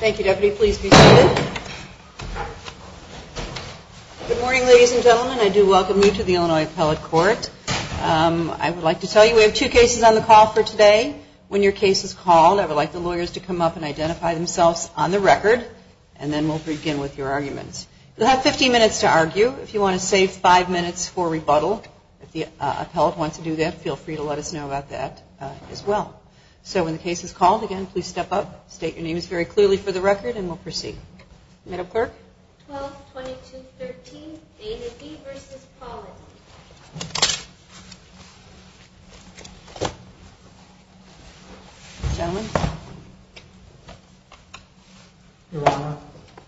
Thank you Deputy. Please be seated. Good morning ladies and gentlemen. I do welcome you to the Illinois Appellate Court. I would like to tell you we have two cases on the call for today. When your case is called, I would like the lawyers to come up and identify themselves on the record and then we'll begin with your arguments. You'll have 15 minutes to argue. If you want to save 5 minutes for rebuttal, if the appellate wants to do that, feel free to let us know about that as well. So when the case is called, again, please step up, state your name very clearly for the record and we'll proceed. Madam Clerk? 12-22-13, Dana D. v. Pollen. Your Honor,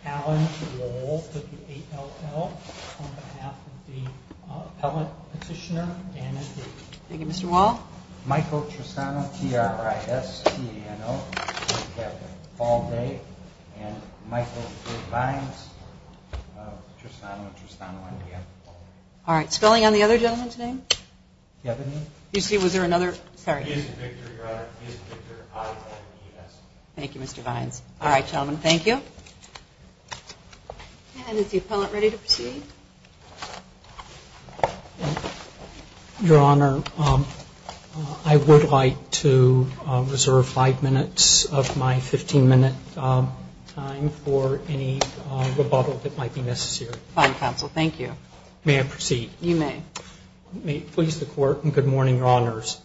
Alan Wohl with the 8-0-0 on behalf of the appellate petitioner, Dana D. Michael Tristano, T-R-I-S-T-A-N-O, on behalf of Paul Day and Michael Vines. All right, spelling on the other gentleman's name? Kevin. You see, was there another? He is Victor, Your Honor. He is Victor, I-V-E-N-S. Thank you, Mr. Vines. All right, gentlemen, thank you. And is the appellate ready to proceed? Your Honor, I would like to reserve 5 minutes of my 15-minute time for any rebuttal that might be necessary. Fine, counsel, thank you. May I proceed? You may. May it please the Court, and good morning, Your Honors.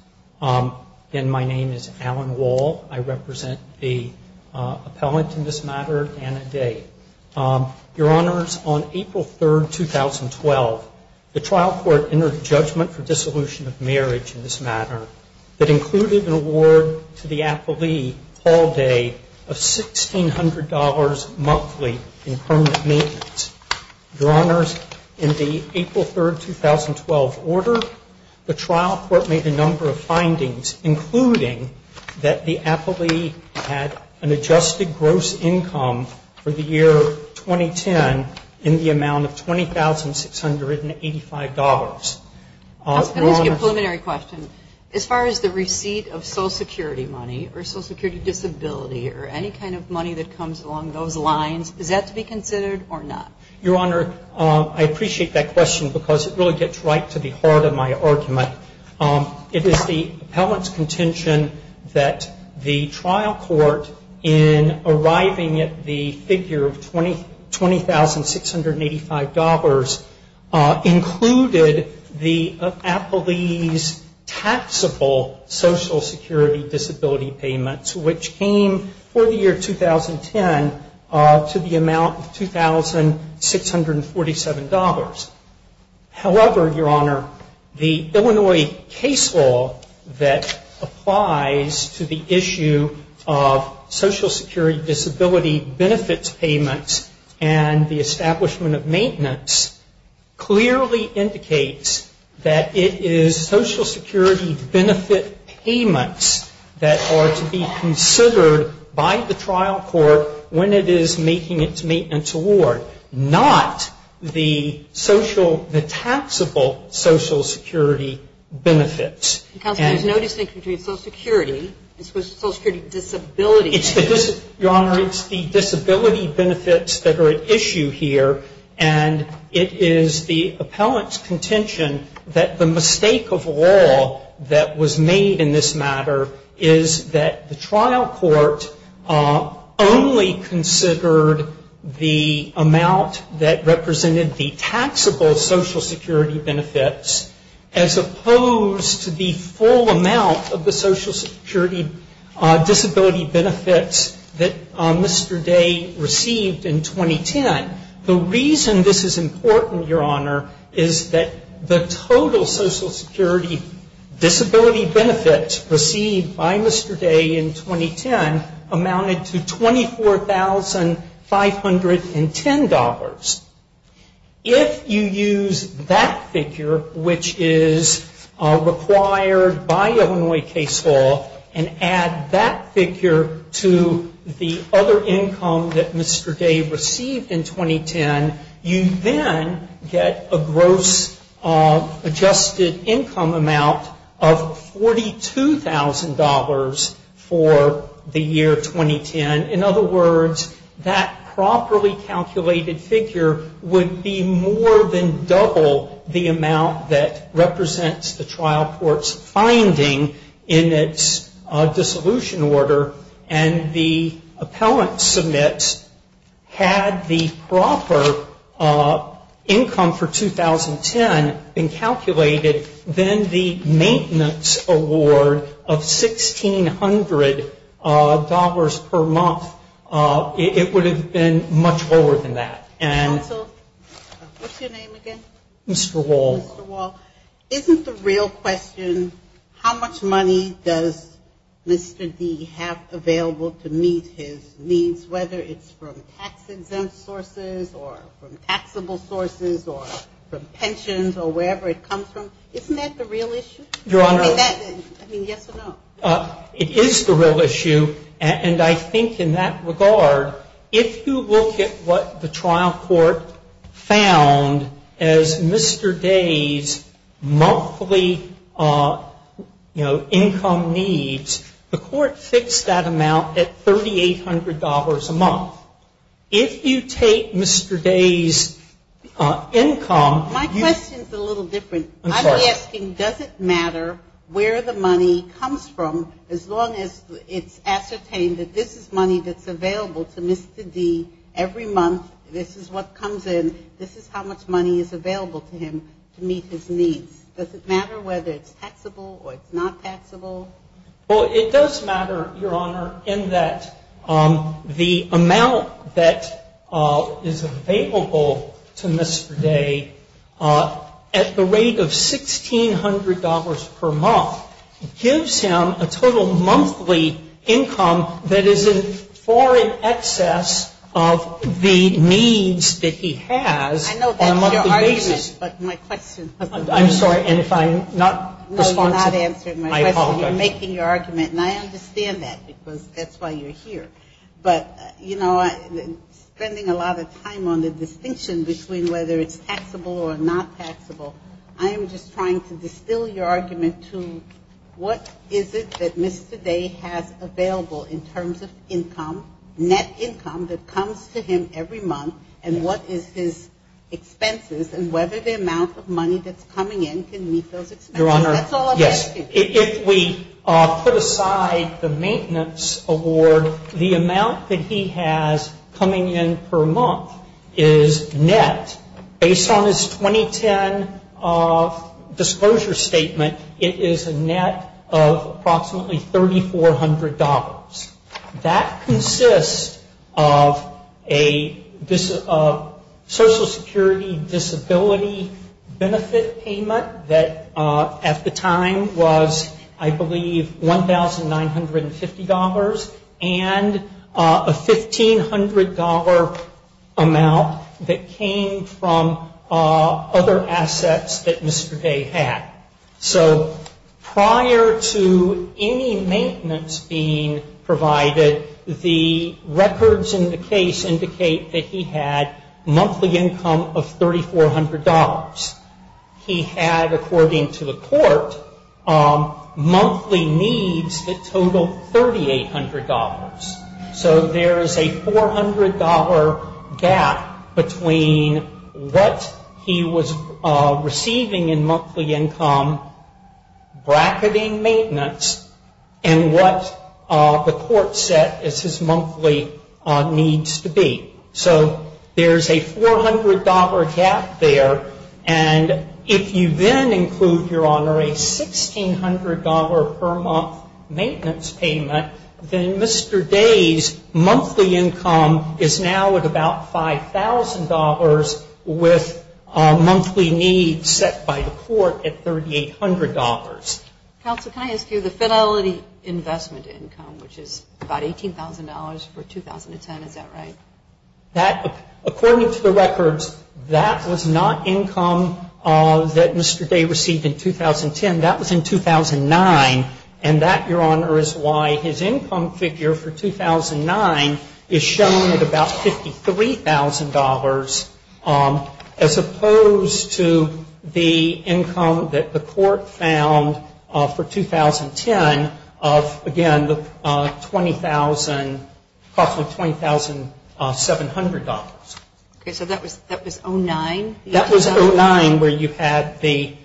Again, my name is Alan Wohl. I represent the appellate in this matter, Dana D. Your Honors, on April 3, 2012, the trial court entered a judgment for dissolution of marriage in this matter that included an award to the appellee, Paul Day, of $1,600 monthly in permanent maintenance. Your Honors, in the April 3, 2012 order, the trial court made a number of findings, including that the appellee had an adjusted gross income for the year 2010 in the amount of $20,685. I'll ask you a preliminary question. As far as the receipt of Social Security money or Social Security disability or any kind of money that comes along those lines, is that to be considered or not? Your Honor, I appreciate that question because it really gets right to the heart of my argument. It is the appellant's contention that the trial court, in arriving at the figure of $20,685, included the appellee's taxable Social Security disability payments, which came for the year 2010 to the amount of $2,647. However, Your Honor, the Illinois case law that applies to the issue of Social Security disability benefits payments and the establishment of maintenance clearly indicates that it is Social Security benefit payments that are to be considered by the trial court when it is making its maintenance award, not the social, the taxable Social Security benefits. Counsel, there's no distinction between Social Security and Social Security disability. Your Honor, it's the disability benefits that are at issue here, and it is the appellant's contention that the mistake of law that was made in this matter is that the trial court only considered the amount that represented the taxable Social Security benefits, as opposed to the full amount of the Social Security disability benefits that Mr. Day received in 2010. The reason this is important, Your Honor, is that the total Social Security disability benefits received by Mr. Day in 2010 amounted to $24,510. If you use that figure, which is required by Illinois case law, and add that figure to the other income that Mr. Day received in 2010, you then get a gross adjusted income amount of $42,000 for the year 2010. In other words, that properly calculated figure would be more than double the amount that represents the trial court's finding in its dissolution order, and the appellant submits had the proper income for 2010 been calculated, then the maintenance award of $1,600 per month, it would have been much lower than that. Counsel, what's your name again? Mr. Wall. Isn't the real question, how much money does Mr. Day have available to meet his needs, whether it's from tax exempt sources or from taxable sources or from pensions or wherever it comes from? Isn't that the real issue? Your Honor, it is the real issue, and I think in that regard, if you look at what the trial court found as Mr. Day's monthly, you know, income needs, the court fixed that amount at $3,800 a month. If you take Mr. Day's income... My question is a little different. I'm sorry. I'm asking, does it matter where the money comes from as long as it's ascertained that this is money that's available to Mr. Day every month, this is what comes in, this is how much money is available to him to meet his needs? Does it matter whether it's taxable or it's not taxable? Well, it does matter, Your Honor, in that the amount that is available to Mr. Day at the rate of $1,600 per month gives him a total monthly income that is in foreign excess of the needs that he has on a monthly basis. I know that's your argument, but my question... I'm sorry, and if I'm not responsive... No, you're not answering my question. I apologize. You're making your argument, and I understand that because that's why you're here. But, you know, spending a lot of time on the distinction between whether it's taxable or not taxable, I am just trying to distill your argument to what is it that Mr. Day has available in terms of income, net income that comes to him every month, and what is his expenses, and whether the amount of money that's coming in can meet those expenses. That's all I'm asking. If we put aside the maintenance award, the amount that he has coming in per month is net. Based on his 2010 disclosure statement, it is a net of approximately $3,400. That consists of a Social Security disability benefit payment that at the time was, I believe, $1,950 and a $1,500 amount that came from other assets that Mr. Day had. So prior to any maintenance being provided, the records in the case indicate that he had monthly income of $3,400. He had, according to the court, monthly needs that totaled $3,800. So there is a $400 gap between what he was receiving in monthly income, bracketing maintenance, and what the court set as his monthly needs to be. So there is a $400 gap there, and if you then include, Your Honor, a $1,600 per month maintenance payment, then Mr. Day's monthly income is now at about $5,000 with monthly needs set by the court at $3,800. Counsel, can I ask you, the fidelity investment income, which is about $18,000 for 2010, is that right? That, according to the records, that was not income that Mr. Day received in 2010. That was in 2009, and that, Your Honor, is why his income figure for 2009 is shown at about $53,000 as opposed to the income that the court found for 2010 of, again, the $20,000, approximately $20,700. Okay, so that was 09? That was 09, where you had the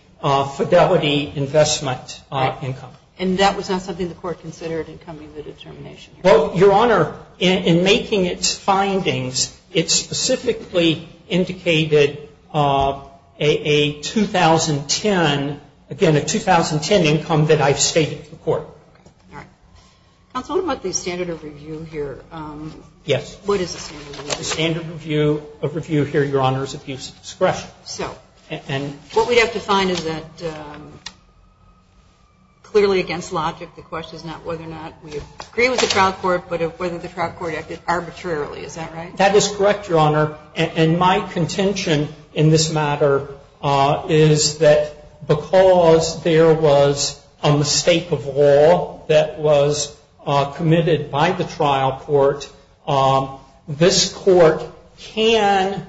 fidelity investment income. And that was not something the court considered in coming to the determination? Well, Your Honor, in making its findings, it specifically indicated a 2010, again, a 2010 income that I've stated to the court. Okay, all right. Counsel, what about the standard of review here? Yes. What is the standard review? The standard of review here, Your Honor, is abuse of discretion. So, what we'd have to find is that, clearly against logic, the question is not whether or not we agree with the trial court, but whether the trial court acted arbitrarily. Is that right? That is correct, Your Honor. And my contention in this matter is that because there was a mistake of law that was committed by the trial court, this court can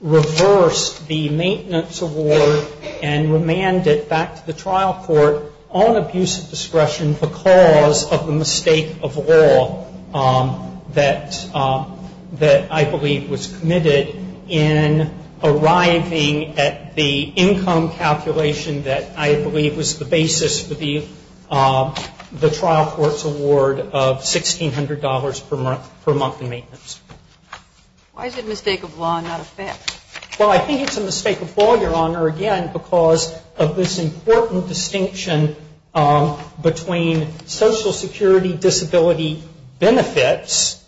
reverse the maintenance award and remand it back to the trial court on abuse of discretion because of the mistake of law that I believe was committed in arriving at the income calculation that I believe was the basis for the trial court's award of $1,600 per month in maintenance. Why is it a mistake of law and not a fact? Well, I think it's a mistake of law, Your Honor, again, because of this important distinction between Social Security disability benefits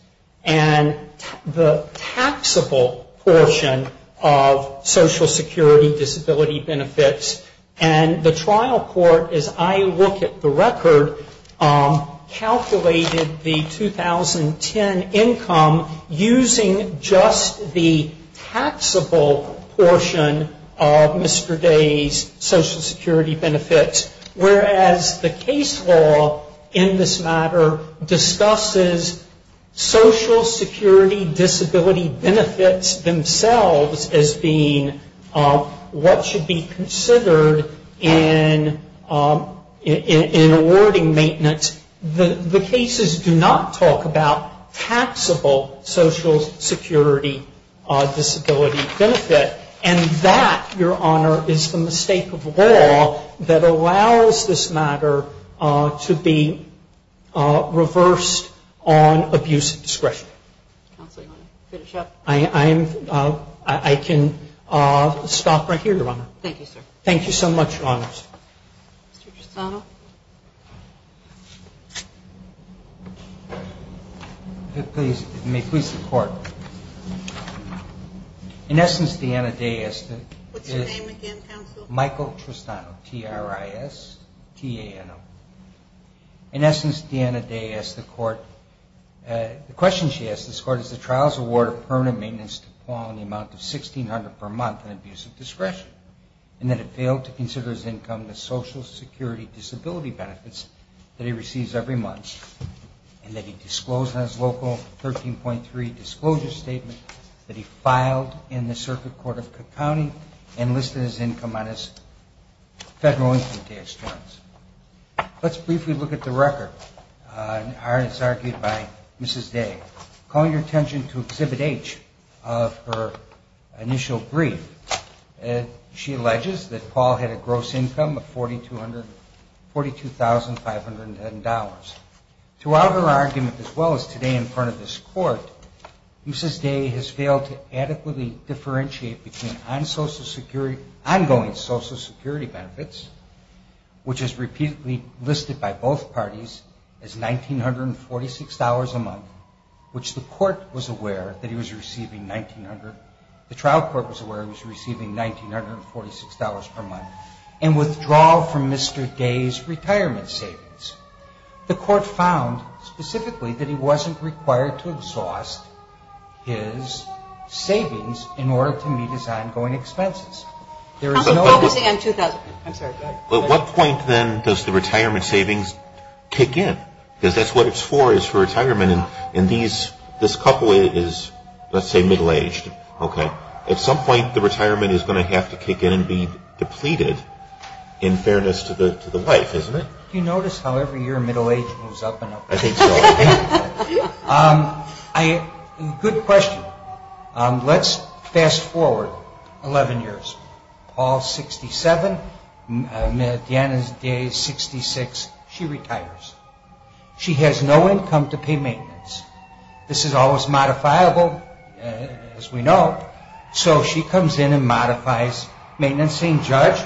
and the taxable portion of Social Security disability benefits. And the trial court, as I look at the record, calculated the 2010 income using just the taxable portion of Mr. Day's Social Security benefits, whereas the case law in this matter discusses Social Security disability benefits themselves as being what should be considered in awarding maintenance. The cases do not talk about taxable Social Security disability benefit. And that, Your Honor, is the mistake of law that allows this matter to be reversed on abuse of discretion. Counsel, you want to finish up? I can stop right here, Your Honor. Thank you, sir. Thank you so much, Your Honors. Mr. Tristano? May it please the Court. In essence, Deanna Day asked the court... What's your name again, counsel? Michael Tristano, T-R-I-S-T-A-N-O. In essence, Deanna Day asked the court... The question she asked the court is the trial's award of permanent maintenance to fall in the amount of $1,600 per month on abuse of discretion, and that it failed to consider his income, the Social Security disability benefits that he receives every month, and that he disclosed in his local 13.3 disclosure statement that he filed in the circuit court of Cook County and listed his income on his federal income tax returns. Let's briefly look at the record, as argued by Mrs. Day. Call your attention to Exhibit H of her initial brief. She alleges that Paul had a gross income of $42,510. Throughout her argument, as well as today in front of this court, Mrs. Day has failed to adequately differentiate between ongoing Social Security benefits, which is repeatedly listed by both parties as $1,946 a month, which the court was aware that he was receiving $1,900, the trial court was aware he was receiving $1,946 per month, and withdrawal from Mr. Day's retirement savings. The court found specifically that he wasn't required to exhaust his savings in order to meet his ongoing expenses. Counsel, focusing on 2000. I'm sorry, go ahead. At what point, then, does the retirement savings kick in? Because that's what it's for, is for retirement. And these, this couple is, let's say, middle-aged, okay? At some point, the retirement is going to have to kick in and be depleted, in fairness to the wife, isn't it? Do you notice how every year middle-age moves up and up? I think so. Good question. Let's fast forward 11 years. Paul's 67, Deanna Day's 66. She retires. She has no income to pay maintenance. This is always modifiable, as we know. So she comes in and modifies maintenance, saying, Judge,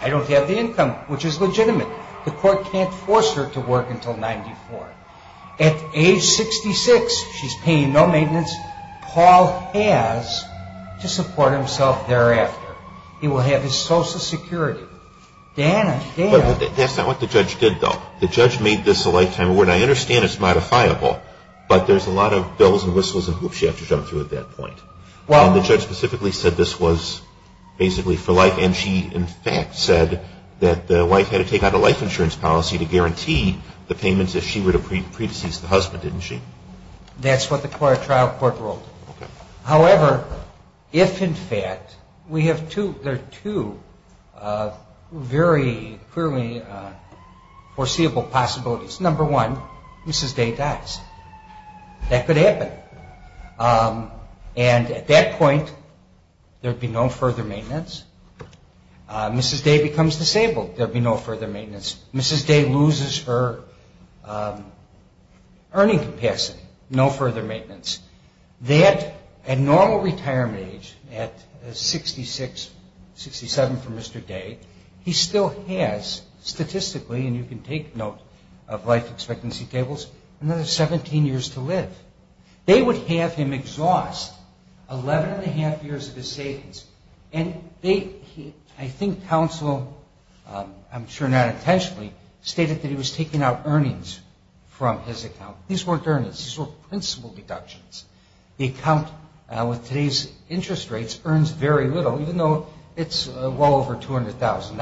I don't have the income, which is legitimate. The court can't force her to work until 94. At age 66, she's paying no maintenance. Paul has to support himself thereafter. He will have his Social Security. Deanna, Deanna. That's not what the judge did, though. The judge made this a lifetime award. I understand it's modifiable, but there's a lot of bells and whistles and hoops she had to jump through at that point. The judge specifically said this was basically for life, and she, in fact, said that the wife had to take out a life insurance policy to guarantee the payments if she were to pre-decease the husband, didn't she? That's what the trial court ruled. However, if, in fact, we have two, there are two very clearly foreseeable possibilities. Number one, Mrs. Day dies. That could happen. And at that point, there'd be no further maintenance. Mrs. Day becomes disabled. There'd be no further maintenance. Mrs. Day loses her earning capacity. No further maintenance. That, at normal retirement age, at 66, 67 for Mr. Day, he still has statistically, and you can take note of life expectancy tables, another 17 years to live. They would have him exhaust 11 and a half years of his savings, and they, I think counsel, I'm sure not intentionally, stated that he was taking out earnings from his account. These weren't earnings. These were principal deductions. The account, with today's interest rates, earns very little, even though it's well over $200,000.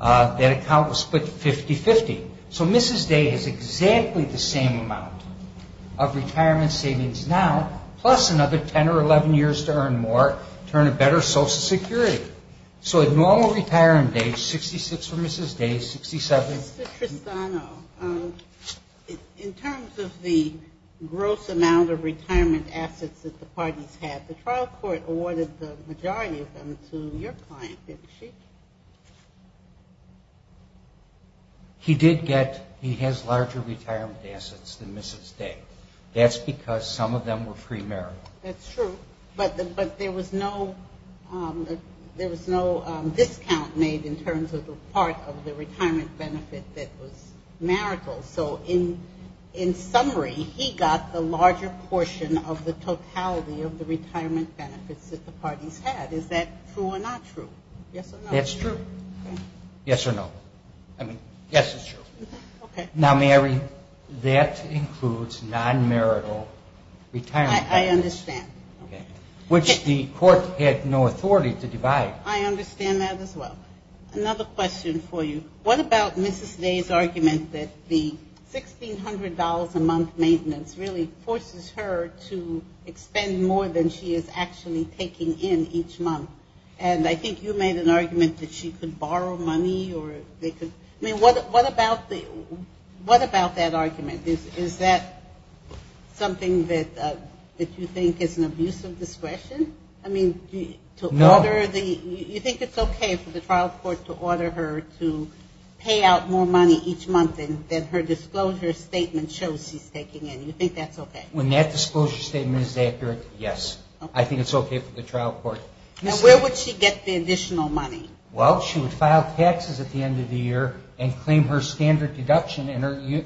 That account was split 50-50. So Mrs. Day has exactly the same amount of retirement savings now, plus another 10 or 11 years to earn more, turn a better social security. So at normal retirement age, 66 for Mrs. Day, 67. Mr. Tristano, in terms of the gross amount of retirement assets that the parties had, the trial court awarded the majority of them to your client, didn't she? He did get, he has larger retirement assets than Mrs. Day. That's because some of them were free marital. That's true. But there was no discount made in terms of the part of the retirement benefit that was marital. So in summary, he got the larger portion of the totality of the retirement benefits that the parties had. Is that true or not true? Yes or no? That's true. Yes or no? I mean, yes, it's true. Now, Mary, that includes non-marital retirement benefits. I understand. Which the court had no authority to divide. I understand that as well. Another question for you. What about Mrs. Day's argument that the $1,600 a month maintenance really forces her to expend more than she is actually taking in each month? And I think you made an argument that she could borrow money or they could, I mean, what about that argument? Is that something that you think is an abuse of discretion? No. I mean, do you think it's okay for the trial court to order her to pay out more money each month than her disclosure statement shows she's taking in? Do you think that's okay? When that disclosure statement is accurate, yes. I think it's okay for the trial court. And where would she get the additional money? Well, she would file taxes at the end of the year and claim her standard deduction.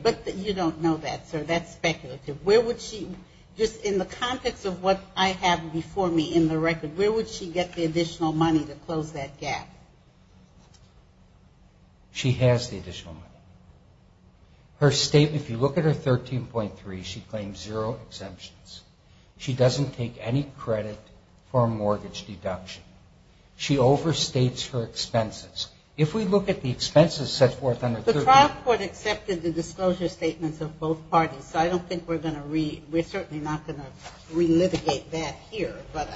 But you don't know that, sir. That's speculative. Where would she, just in the context of what I have before me in the record, where would she get the additional money to close that gap? She has the additional money. Her statement, if you look at her 13.3, she claims zero exemptions. She doesn't take any credit for a mortgage deduction. She overstates her expenses. If we look at the expenses set forth under 13. The trial court accepted the disclosure statements of both parties. So I don't think we're going to re- we're certainly not going to re-litigate that here. But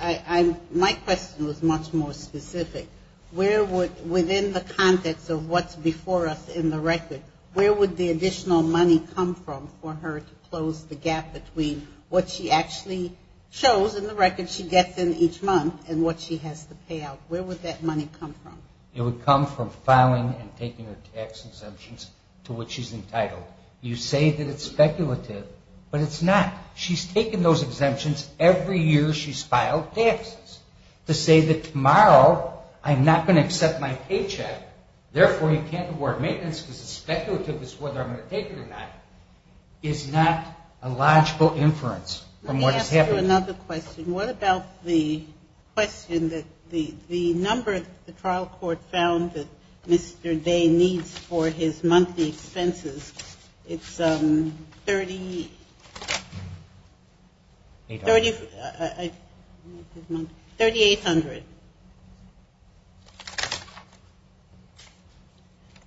my question was much more specific. Where would, within the context of what's before us in the record, where would the additional money come from for her to close the gap between what she actually shows in the record she gets in each month and what she has to pay out? Where would that money come from? It would come from filing and taking her tax exemptions to which she's entitled. You say that it's speculative, but it's not. She's taken those exemptions every year she's filed taxes. To say that tomorrow I'm not going to accept my paycheck, therefore you can't award maintenance because it's speculative as to whether I'm going to take it or not, is not a logical inference from what is happening. Let me ask you another question. What about the question that the number the trial court found that Mr. Day needs for his monthly expenses? It's $3,800.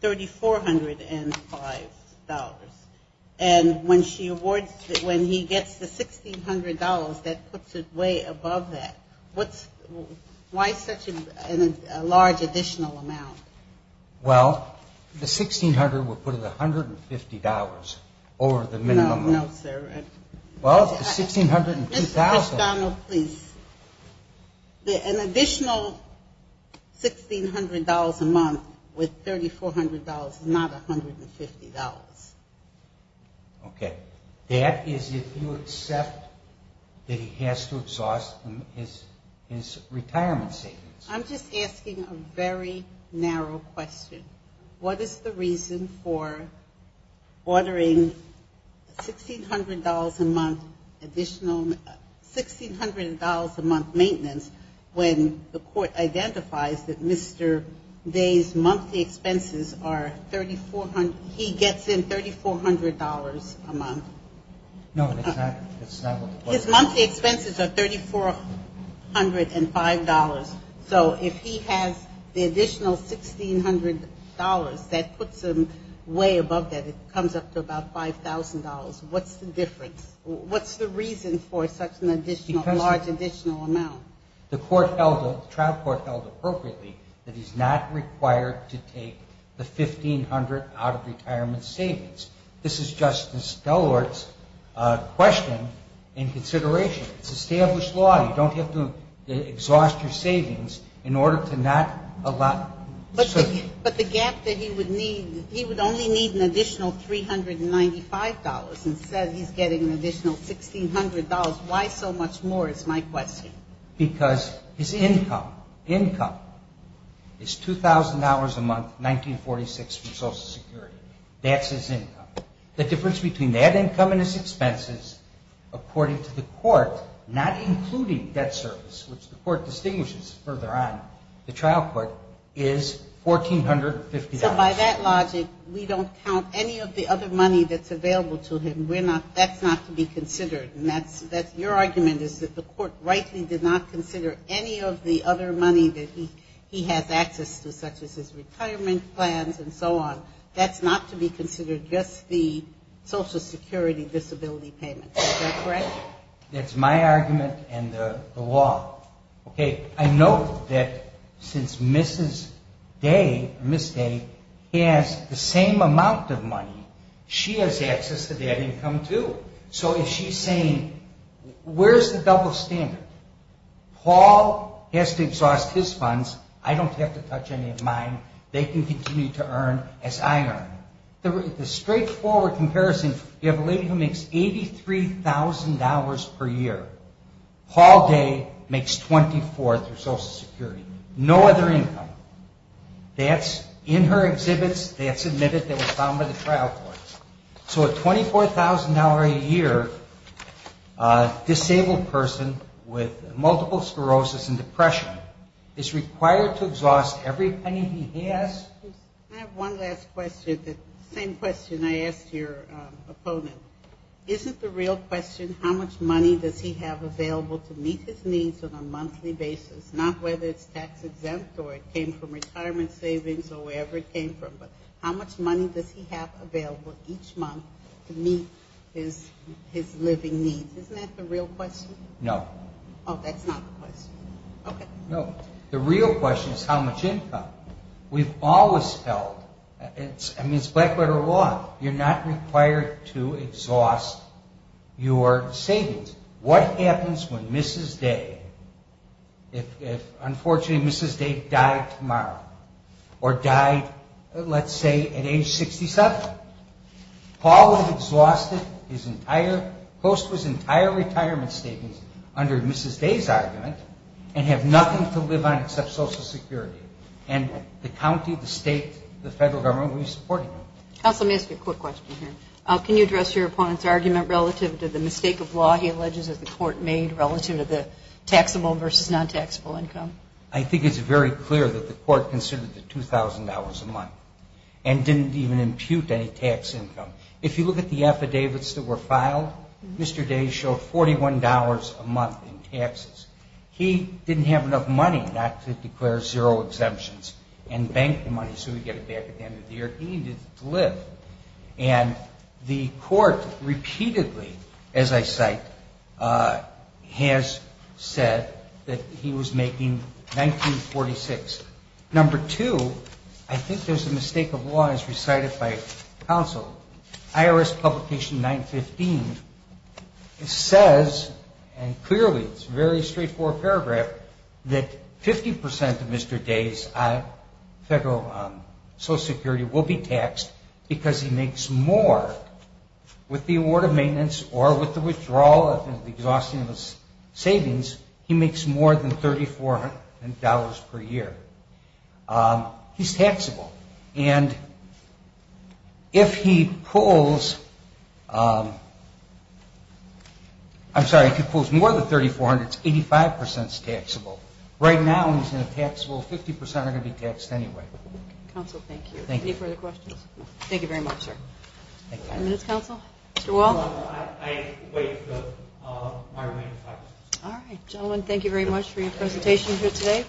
$3,405. And when he gets the $1,600, that puts it way above that. Why such a large additional amount? Well, the $1,600 would put it at $150 over the minimum. No, no, sir. Well, the $1,600 and $2,000. Mr. McDonnell, please. An additional $1,600 a month with $3,400 is not $150. Okay. That is if you accept that he has to exhaust his retirement savings. I'm just asking a very narrow question. What is the reason for ordering $1,600 a month additional $1,600 a month maintenance when the court identifies that Mr. Day's monthly expenses are $3,400. He gets in $3,400 a month. No, it's not. His monthly expenses are $3,405. So if he has the additional $1,600, that puts him way above that. It comes up to about $5,000. What's the difference? What's the reason for such a large additional amount? The trial court held appropriately that he's not required to take the $1,500 out of retirement savings. This is Justice Delaware's question and consideration. It's established law. You don't have to exhaust your savings in order to not allow. But the gap that he would need, he would only need an additional $395 instead of he's getting an additional $1,600. Why so much more is my question. Because his income, income is $2,000 a month, 1946 for Social Security. That's his income. The difference between that income and his expenses, according to the court, not including debt service, which the court distinguishes further on, the trial court, is $1,450. So by that logic, we don't count any of the other money that's available to him. We're not, that's not to be considered. And that's, that's your argument is that the court rightly did not consider any of the other money that he has access to, such as his retirement plans and so on. That's not to be considered just the Social Security disability payment. Is that correct? That's my argument and the law. Okay. I know that since Mrs. Day, Ms. Day, has the same amount of money, she has access to that income too. So if she's saying, where's the double standard? Paul has to exhaust his funds. I don't have to touch any of mine. They can continue to earn as I earn. The straightforward comparison, you have a lady who makes $83,000 per year. Paul Day makes $24,000 through Social Security. No other income. That's in her exhibits, that's admitted, that was found by the trial court. So a $24,000 a year disabled person with multiple sclerosis and depression is required to exhaust every penny he has. I have one last question. The same question I asked your opponent. Isn't the real question, how much money does he have available to meet his needs on a monthly basis? Not whether it's tax exempt or it came from retirement savings or wherever it came from. How much money does he have available each month to meet his living needs? Isn't that the real question? No. Oh, that's not the question. Okay. No. The real question is how much income. We've always felt, I mean, it's black-letter law. You're not required to exhaust your savings. What happens when Mrs. Day, if unfortunately Mrs. Day died tomorrow or died, let's say, at age 67? Paul would have exhausted his entire, most of his entire retirement savings under Mrs. Day's argument and have nothing to live on except Social Security. And the county, the state, the federal government would be supporting him. Counsel, let me ask you a quick question here. Can you address your opponent's argument relative to the mistake of law he alleges that the court made relative to the taxable versus non-taxable income? I think it's very clear that the court considered the $2,000 a month and didn't even impute any tax income. If you look at the affidavits that were filed, Mr. Day showed $41 a month in taxes. He didn't have enough money not to declare zero exemptions and bank the money so he could get it back at the end of the year. He needed to live. And the court repeatedly, as I cite, has said that he was making $19.46. Number two, I think there's a mistake of law as recited by counsel. IRS Publication 915 says, and clearly it's a very straightforward paragraph, that 50% of Mr. Day's federal Social Security will be taxed because he makes more. With the award of maintenance or with the withdrawal of the exhaustion of his savings, he makes more than $3,400 per year. He's taxable. And if he pulls, I'm sorry, if he pulls more than $3,400, it's 85% taxable. Right now he's in a taxable 50% are going to be taxed anyway. Counsel, thank you. Any further questions? Thank you very much, sir. Five minutes, counsel? Mr. Wall? All right, gentlemen, thank you very much for your presentation here today.